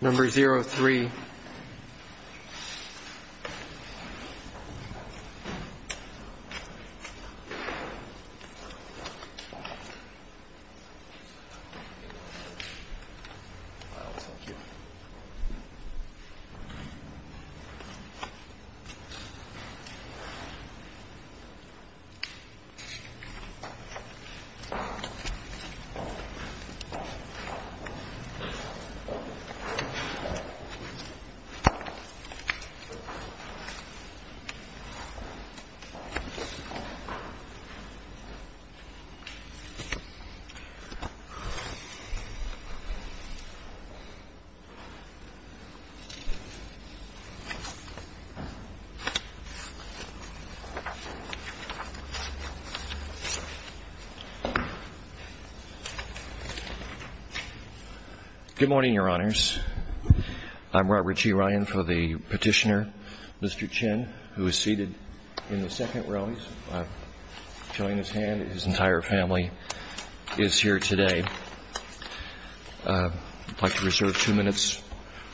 Number 03 Good morning, your honors. I'm Robert G. Ryan for the petitioner, Mr. Chen, who is seated in the second row. I'm showing his hand. His entire family is here today. I'd like to reserve two minutes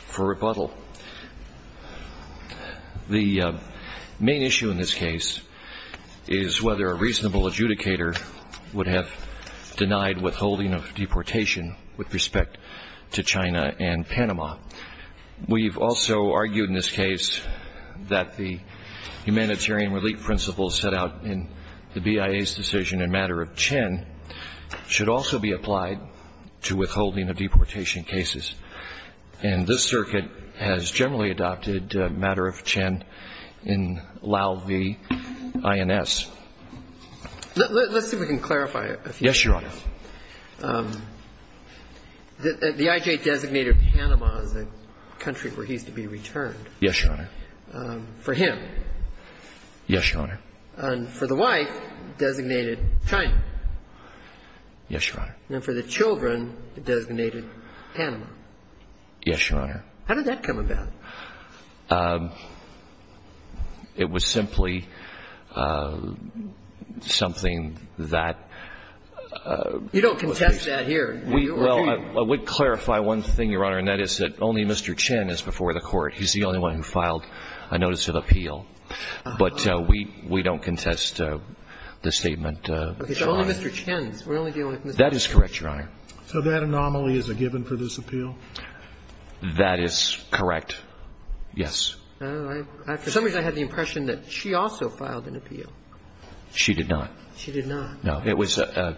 for rebuttal. The main issue in this case is whether a reasonable adjudicator would have denied withholding of deportation with respect to China and Panama. We've also argued in this case that the humanitarian relief principles set out in the BIA's decision in matter of Chen should also be applied to withholding of deportation cases. And this circuit has generally adopted matter of Chen in Lau v. INS. Let's see if we can clarify a few things. Yes, your honor. The I.J. designated Panama as a country where he's to be returned. Yes, your honor. For him. Yes, your honor. And for the wife, designated China. Yes, your honor. And for the children, designated Panama. Yes, your honor. How did that come about? It was simply something that ---- You don't contest that here. Well, I would clarify one thing, your honor, and that is that only Mr. Chen is before the court. He's the only one who filed a notice of appeal. But we don't contest the statement. That is correct, your honor. So that anomaly is a given for this appeal? That is correct, yes. For some reason, I had the impression that she also filed an appeal. She did not. She did not. No. It was a ----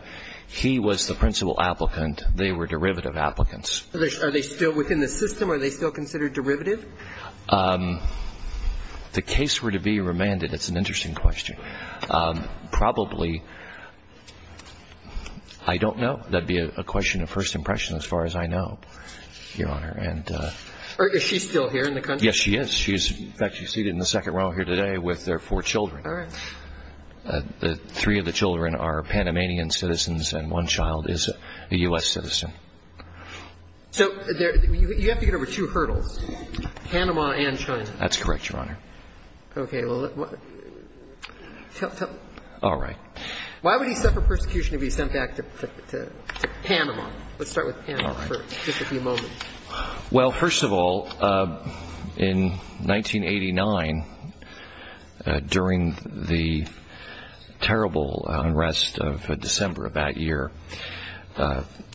he was the principal applicant. They were derivative applicants. Are they still within the system? Are they still considered derivative? The case were to be remanded, it's an interesting question. So probably, I don't know. That would be a question of first impression as far as I know, your honor. Is she still here in the country? Yes, she is. In fact, she's seated in the second row here today with her four children. All right. Three of the children are Panamanian citizens and one child is a U.S. citizen. So you have to get over two hurdles, Panama and China. That's correct, your honor. All right. Why would he suffer persecution if he was sent back to Panama? Let's start with Panama for just a few moments. Well, first of all, in 1989, during the terrible unrest of December of that year,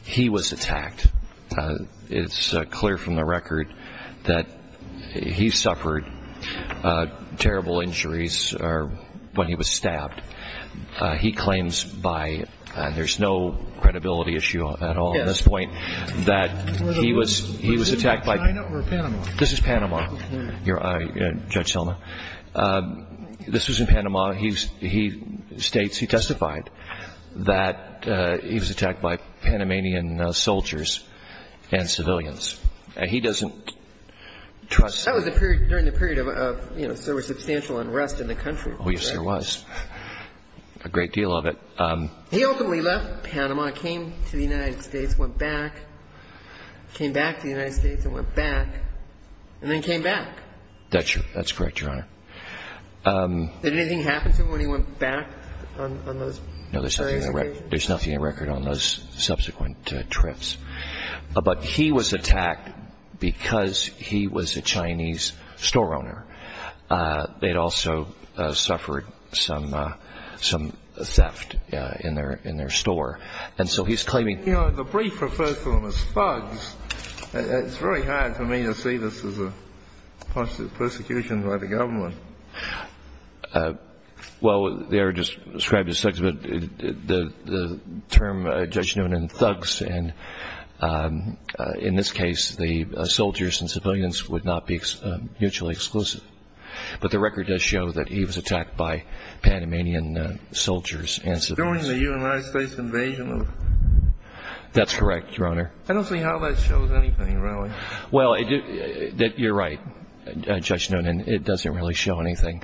he was attacked. It's clear from the record that he suffered a lot of pain. Terrible injuries are when he was stabbed. He claims by, and there's no credibility issue at all at this point, that he was attacked by. Was this in China or Panama? This is Panama, Judge Selma. This was in Panama. He states, he testified that he was attacked by Panamanian soldiers and civilians. He doesn't trust. That was during the period of, you know, there was substantial unrest in the country. Oh, yes, there was. A great deal of it. He ultimately left Panama, came to the United States, went back, came back to the United States and went back, and then came back. That's correct, your honor. Did anything happen to him when he went back on those? No, there's nothing on the record on those subsequent trips. But he was attacked because he was a Chinese store owner. They'd also suffered some theft in their store. And so he's claiming. You know, the brief refers to them as thugs. It's very hard for me to see this as a possible persecution by the government. Well, they are just described as thugs, but the term, Judge Noonan, thugs, and in this case the soldiers and civilians would not be mutually exclusive. But the record does show that he was attacked by Panamanian soldiers and civilians. During the United States invasion? That's correct, your honor. I don't see how that shows anything, really. Well, you're right, Judge Noonan. It doesn't really show anything.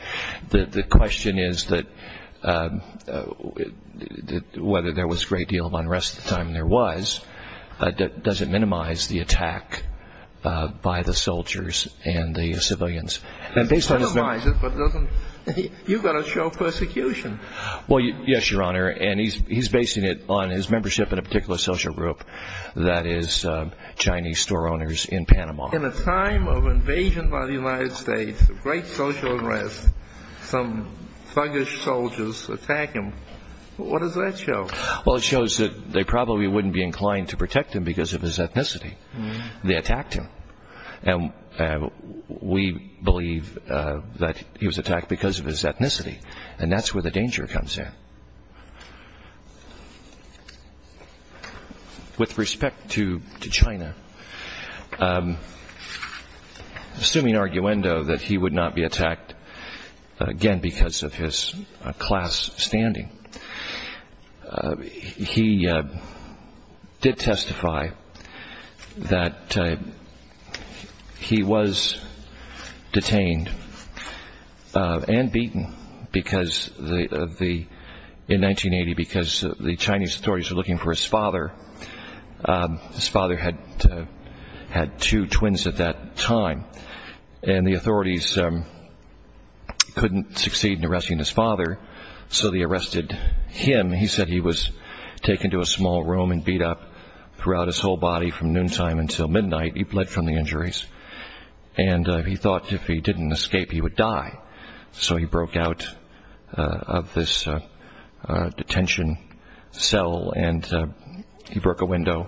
The question is whether there was a great deal of unrest at the time there was. Does it minimize the attack by the soldiers and the civilians? Minimize it, but you've got to show persecution. Well, yes, your honor, and he's basing it on his membership in a particular social group that is Chinese store owners in Panama. In a time of invasion by the United States, great social unrest, some thuggish soldiers attack him. What does that show? Well, it shows that they probably wouldn't be inclined to protect him because of his ethnicity. They attacked him, and we believe that he was attacked because of his ethnicity, and that's where the danger comes in. With respect to China, assuming arguendo that he would not be attacked again because of his class standing, he did testify that he was detained and beaten in 1980 because the Chinese authorities were looking for his father. His father had two twins at that time, and the authorities couldn't succeed in arresting his father, so they arrested him. He said he was taken to a small room and beat up throughout his whole body from noontime until midnight. He bled from the injuries, and he thought if he didn't escape, he would die. So he broke out of this detention cell, and he broke a window.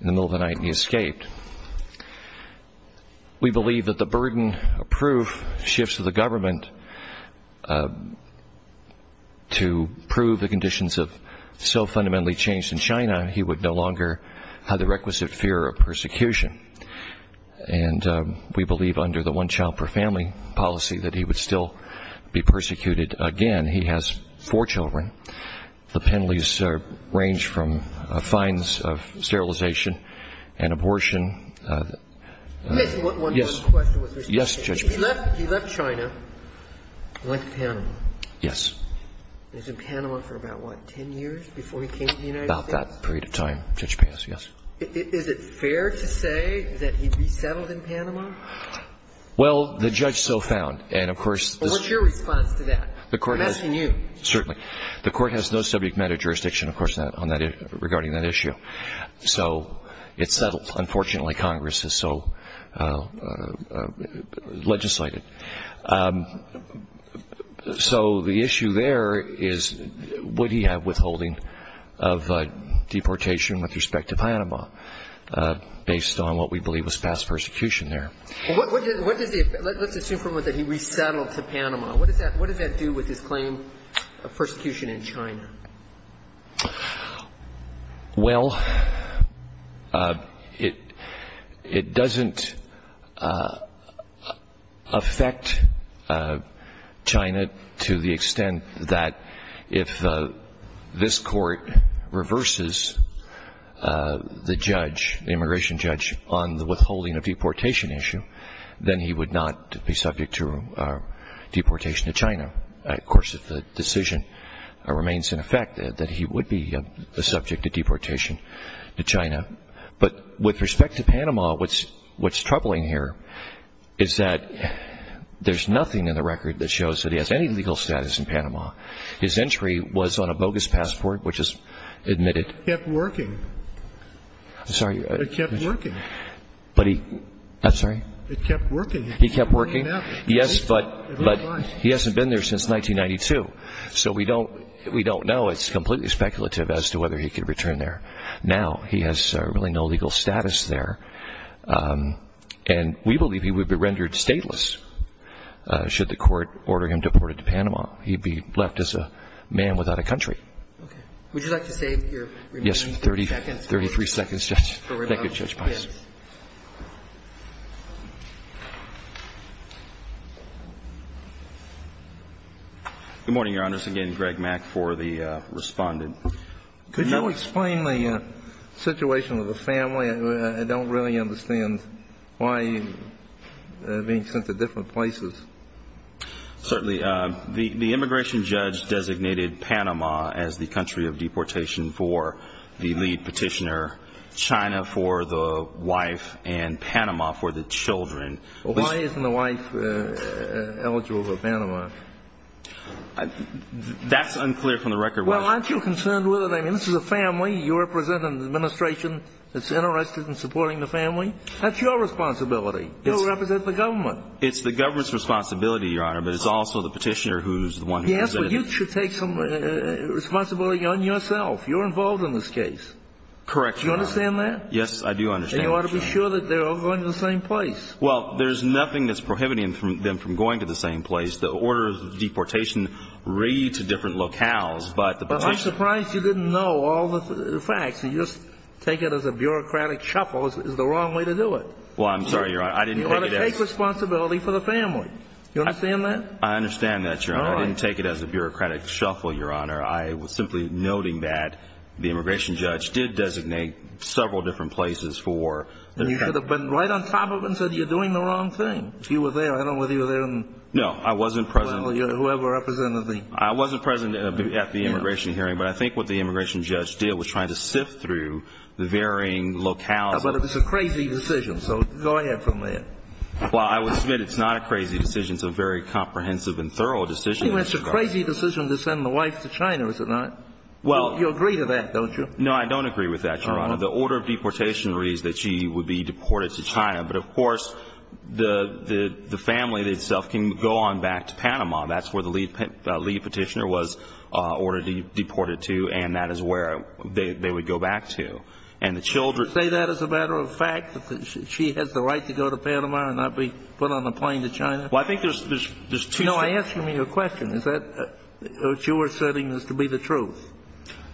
In the middle of the night, he escaped. We believe that the burden of proof shifts to the government to prove the conditions have so fundamentally changed in China, he would no longer have the requisite fear of persecution, and we believe under the one child per family policy that he would still be persecuted again. He has four children. The penalties range from fines of sterilization and abortion. Yes. He left China and went to Panama. Yes. He was in Panama for about, what, 10 years before he came to the United States? About that period of time, Judge Pius, yes. Is it fair to say that he resettled in Panama? Well, the judge so found, and of course the court has to. What's your response to that? I'm asking you. Certainly. The court has no subject matter jurisdiction, of course, regarding that issue. So it's settled. Unfortunately, Congress is so legislated. So the issue there is would he have withholding of deportation with respect to Panama based on what we believe was past persecution there? Let's assume for a moment that he resettled to Panama. What does that do with his claim of persecution in China? Well, it doesn't affect China to the extent that if this court reverses the judge, the immigration judge, on the withholding of deportation issue, then he would not be subject to deportation to China. Of course, if the decision remains in effect, that he would be subject to deportation to China. But with respect to Panama, what's troubling here is that there's nothing in the record that shows that he has any legal status in Panama. His entry was on a bogus passport, which is admitted. It kept working. I'm sorry. It kept working. I'm sorry? It kept working. He kept working? Yes, but he hasn't been there since 1992. So we don't know. It's completely speculative as to whether he could return there. Now he has really no legal status there, and we believe he would be rendered stateless should the court order him deported to Panama. He'd be left as a man without a country. Okay. Would you like to save your remaining seconds? Yes. Thirty-three seconds, Judge. Thank you, Judge Pines. Yes. Good morning, Your Honors. Again, Greg Mack for the respondent. Could you explain the situation with the family? I don't really understand why he's being sent to different places. Certainly. The immigration judge designated Panama as the country of deportation for the lead petitioner, China for the wife, and Panama for the children. Why isn't the wife eligible for Panama? That's unclear from the record. Well, aren't you concerned with it? I mean, this is a family. You represent an administration that's interested in supporting the family. That's your responsibility. You represent the government. It's the government's responsibility, Your Honor, but it's also the petitioner who's the one who's in it. Yes, but you should take some responsibility on yourself. You're involved in this case. Correct, Your Honor. Do you understand that? Yes, I do understand. And you ought to be sure that they're all going to the same place. Well, there's nothing that's prohibiting them from going to the same place. The orders of deportation read to different locales. But I'm surprised you didn't know all the facts. You just take it as a bureaucratic shuffle is the wrong way to do it. Well, I'm sorry, Your Honor. You ought to take responsibility for the family. Do you understand that? I understand that, Your Honor. I didn't take it as a bureaucratic shuffle, Your Honor. I was simply noting that the immigration judge did designate several different places for the family. You should have been right on top of it and said you're doing the wrong thing. If you were there, I don't know whether you were there. No, I wasn't present. Well, you're whoever represented me. I wasn't present at the immigration hearing, but I think what the immigration judge did was try to sift through the varying locales. But it was a crazy decision. So go ahead from there. Well, I will submit it's not a crazy decision. It's a very comprehensive and thorough decision. I think it's a crazy decision to send the wife to China, is it not? You agree to that, don't you? No, I don't agree with that, Your Honor. The order of deportation reads that she would be deported to China. But, of course, the family itself can go on back to Panama. That's where the lead petitioner was ordered to be deported to, and that is where they would go back to. You say that as a matter of fact, that she has the right to go to Panama and not be put on a plane to China? Well, I think there's two steps. No, I'm asking you a question. Is that what you are saying is to be the truth,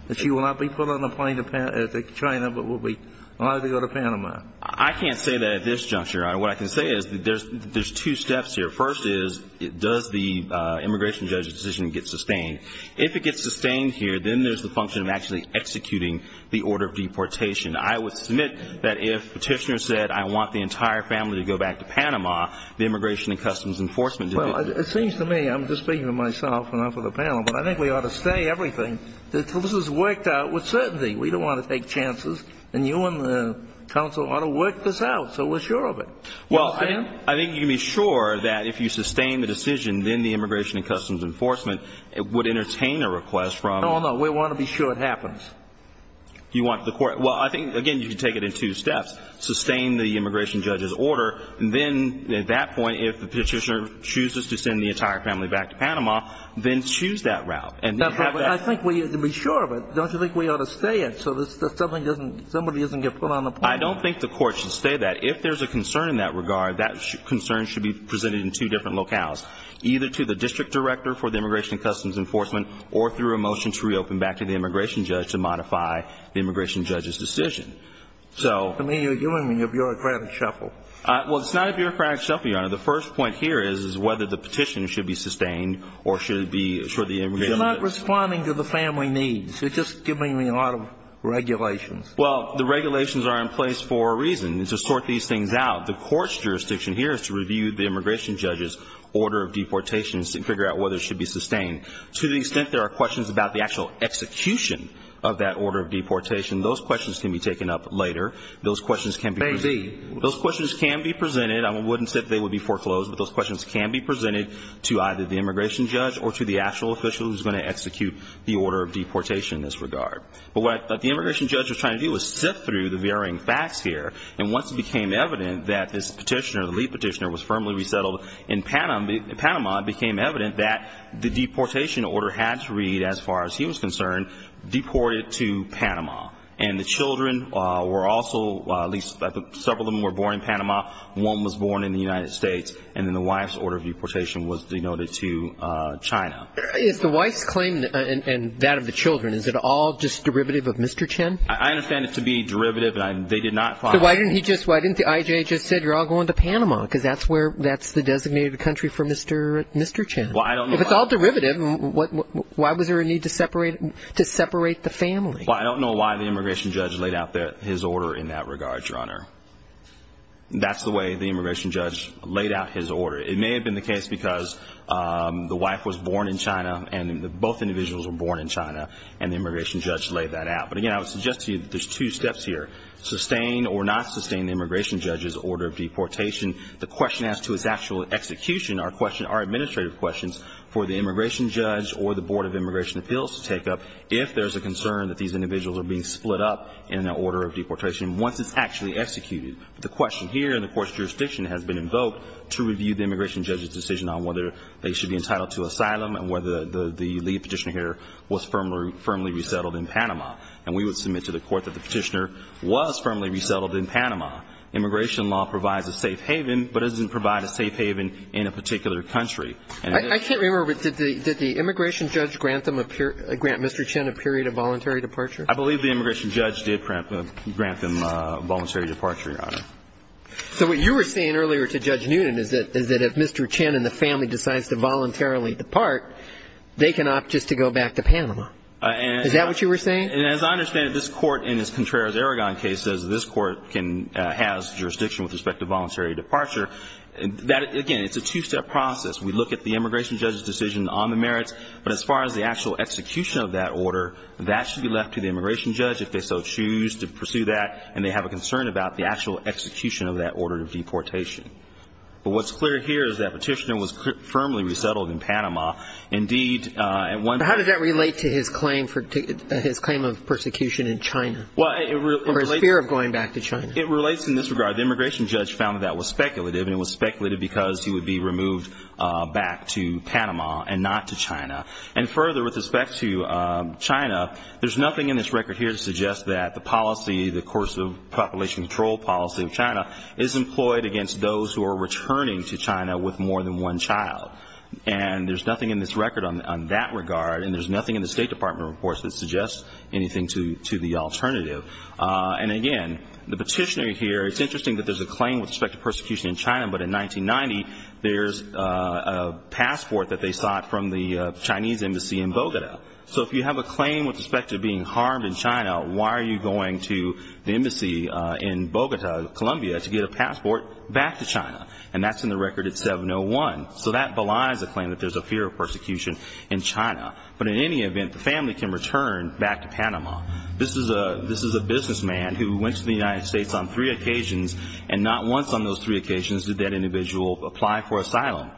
that she will not be put on a plane to China but will be allowed to go to Panama? I can't say that at this juncture, Your Honor. What I can say is there's two steps here. First is does the immigration judge's decision get sustained? If it gets sustained here, then there's the function of actually executing the order of deportation. I would submit that if the petitioner said, I want the entire family to go back to Panama, the Immigration and Customs Enforcement division Well, it seems to me, I'm just speaking for myself and not for the panel, but I think we ought to say everything, that this is worked out with certainty. We don't want to take chances, and you and the counsel ought to work this out so we're sure of it. Well, I think you can be sure that if you sustain the decision, then the Immigration and Customs Enforcement would entertain a request from No, no, we want to be sure it happens. You want the court, well, I think, again, you can take it in two steps. Sustain the immigration judge's order, and then at that point, if the petitioner chooses to send the entire family back to Panama, then choose that route. I think we need to be sure of it. Don't you think we ought to stay it so somebody doesn't get put on a plane? I don't think the court should stay that. If there's a concern in that regard, that concern should be presented in two different locales, either to the district director for the Immigration and Customs Enforcement or through a motion to reopen back to the immigration judge to modify the immigration judge's decision. I mean, you're giving me a bureaucratic shuffle. Well, it's not a bureaucratic shuffle, Your Honor. The first point here is whether the petition should be sustained or should it be assured the immigration judge You're not responding to the family needs. You're just giving me a lot of regulations. Well, the regulations are in place for a reason. It's to sort these things out. The court's jurisdiction here is to review the immigration judge's order of deportation and figure out whether it should be sustained. To the extent there are questions about the actual execution of that order of deportation, those questions can be taken up later. Those questions can be presented. Those questions can be presented. I wouldn't say that they would be foreclosed, but those questions can be presented to either the immigration judge or to the actual official who's going to execute the order of deportation in this regard. But what the immigration judge was trying to do was sift through the varying facts here, and once it became evident that this petitioner, the lead petitioner, was firmly resettled in Panama, it became evident that the deportation order had to read, as far as he was concerned, deported to Panama. And the children were also, at least several of them were born in Panama, one was born in the United States, and then the wife's order of deportation was denoted to China. Is the wife's claim and that of the children, is it all just derivative of Mr. Chen? I understand it to be derivative. So why didn't I.J. just say, you're all going to Panama, because that's the designated country for Mr. Chen. If it's all derivative, why was there a need to separate the family? Well, I don't know why the immigration judge laid out his order in that regard, Your Honor. That's the way the immigration judge laid out his order. It may have been the case because the wife was born in China, and both individuals were born in China, and the immigration judge laid that out. But, again, I would suggest to you that there's two steps here, sustain or not sustain the immigration judge's order of deportation. The question as to its actual execution are administrative questions for the immigration judge or the Board of Immigration Appeals to take up if there's a concern that these individuals are being split up in an order of deportation once it's actually executed. The question here in the court's jurisdiction has been invoked to review the immigration judge's decision on whether they should be entitled to asylum and whether the lead petitioner here was firmly resettled in Panama. And we would submit to the court that the petitioner was firmly resettled in Panama. Immigration law provides a safe haven, but it doesn't provide a safe haven in a particular country. I can't remember, but did the immigration judge grant Mr. Chin a period of voluntary departure? I believe the immigration judge did grant them voluntary departure, Your Honor. So what you were saying earlier to Judge Newton is that if Mr. Chin and the family decides to voluntarily depart, they can opt just to go back to Panama. Is that what you were saying? And as I understand it, this Court, in this Contreras-Aragon case, says this Court has jurisdiction with respect to voluntary departure. Again, it's a two-step process. We look at the immigration judge's decision on the merits, but as far as the actual execution of that order, that should be left to the immigration judge if they so choose to pursue that and they have a concern about the actual execution of that order of deportation. But what's clear here is that petitioner was firmly resettled in Panama. But how does that relate to his claim of persecution in China or his fear of going back to China? It relates in this regard. The immigration judge found that that was speculative, and it was speculative because he would be removed back to Panama and not to China. And further, with respect to China, there's nothing in this record here to suggest that the policy, the course of population control policy of China, is employed against those who are returning to China with more than one child. And there's nothing in this record on that regard, and there's nothing in the State Department reports that suggests anything to the alternative. And again, the petitioner here, it's interesting that there's a claim with respect to persecution in China, but in 1990, there's a passport that they sought from the Chinese embassy in Bogota. So if you have a claim with respect to being harmed in China, why are you going to the embassy in Bogota, Colombia, to get a passport back to China? And that's in the record at 701. So that belies a claim that there's a fear of persecution in China. But in any event, the family can return back to Panama. This is a businessman who went to the United States on three occasions, and not once on those three occasions did that individual apply for asylum.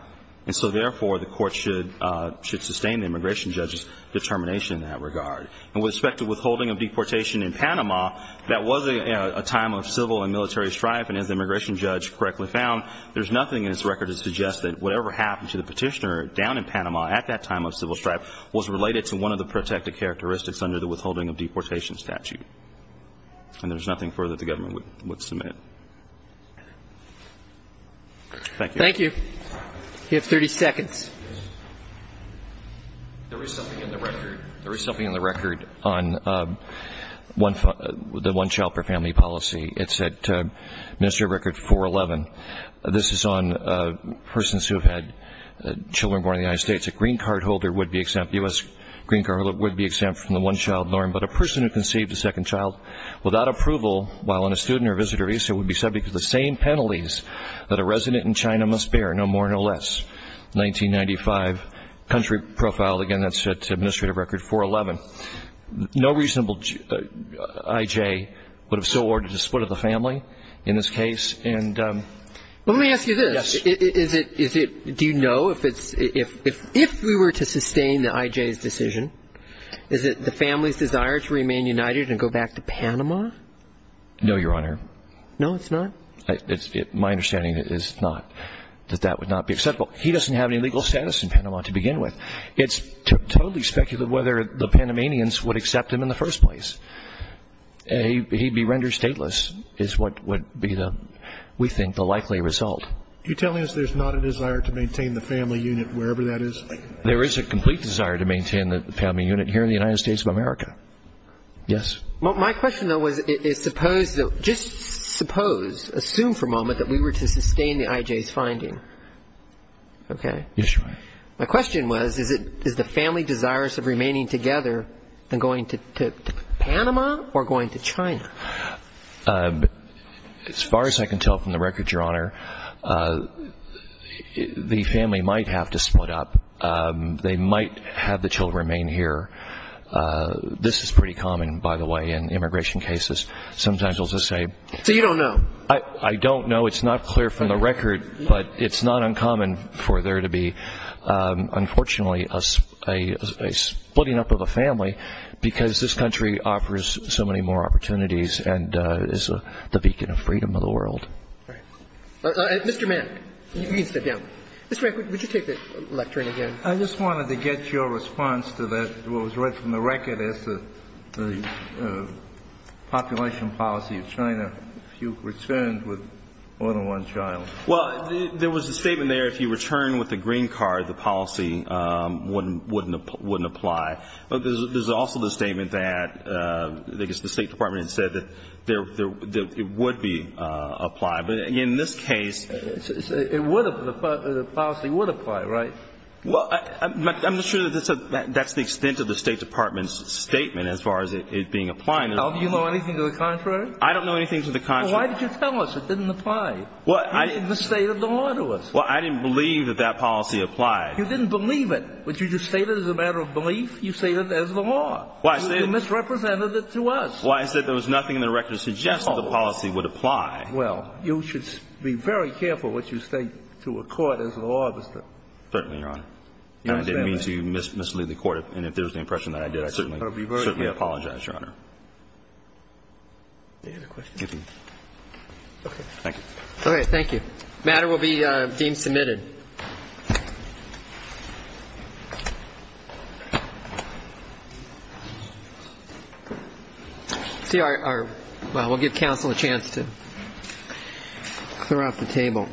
And so therefore, the court should sustain the immigration judge's determination in that regard. And with respect to withholding of deportation in Panama, that was a time of civil and military strife, and as the immigration judge correctly found, there's nothing in this record that suggests that whatever happened to the petitioner down in Panama at that time of civil strife was related to one of the protected characteristics under the withholding of deportation statute. And there's nothing further that the government would submit. Thank you. Thank you. You have 30 seconds. There is something in the record. There is something in the record on the one child per family policy. It's at Administrative Record 411. This is on persons who have had children born in the United States. A green card holder would be exempt. The U.S. green card holder would be exempt from the one child norm. But a person who conceived a second child without approval while on a student or visitor visa would be subject to the same penalties that a resident in China must bear, no more, no less. 1995 country profile. Again, that's at Administrative Record 411. No reasonable I.J. would have so ordered a split of the family in this case. Let me ask you this. Yes. Do you know if we were to sustain the I.J.'s decision, is it the family's desire to remain united and go back to Panama? No, Your Honor. No, it's not? My understanding is not that that would not be acceptable. He doesn't have any legal status in Panama to begin with. It's totally speculative whether the Panamanians would accept him in the first place. He'd be rendered stateless is what would be, we think, the likely result. Are you telling us there's not a desire to maintain the family unit wherever that is? There is a complete desire to maintain the family unit here in the United States of America. Yes. My question, though, is just suppose, assume for a moment that we were to sustain the I.J.'s finding. Okay? Yes, Your Honor. My question was is the family desirous of remaining together than going to Panama or going to China? As far as I can tell from the record, Your Honor, the family might have to split up. They might have the children remain here. This is pretty common, by the way, in immigration cases. Sometimes they'll just say. So you don't know? I don't know. It's not clear from the record, but it's not uncommon for there to be, unfortunately, a splitting up of a family because this country offers so many more opportunities and is the beacon of freedom of the world. Mr. Mann, you can sit down. Mr. Mann, would you take the lectern again? I just wanted to get your response to that. Well, it was read from the record as the population policy of China. If you returned with more than one child. Well, there was a statement there if you returned with a green card, the policy wouldn't apply. But there's also the statement that I guess the State Department had said that it would be applied. But, again, in this case the policy would apply, right? Well, I'm not sure that's the extent of the State Department's statement as far as it being applied. Do you know anything to the contrary? I don't know anything to the contrary. Well, why did you tell us it didn't apply? Well, I didn't believe that that policy applied. You didn't believe it, but you just stated it as a matter of belief. You stated it as the law. You misrepresented it to us. Well, I said there was nothing in the record that suggested the policy would apply. Well, you should be very careful what you state to a court as a law officer. Certainly, Your Honor. I didn't mean to mislead the court. And if there's an impression that I did, I certainly apologize, Your Honor. Any other questions? Thank you. All right. Thank you. The matter will be deemed submitted. See, our ñ well, we'll give counsel a chance to clear off the table. Thank you.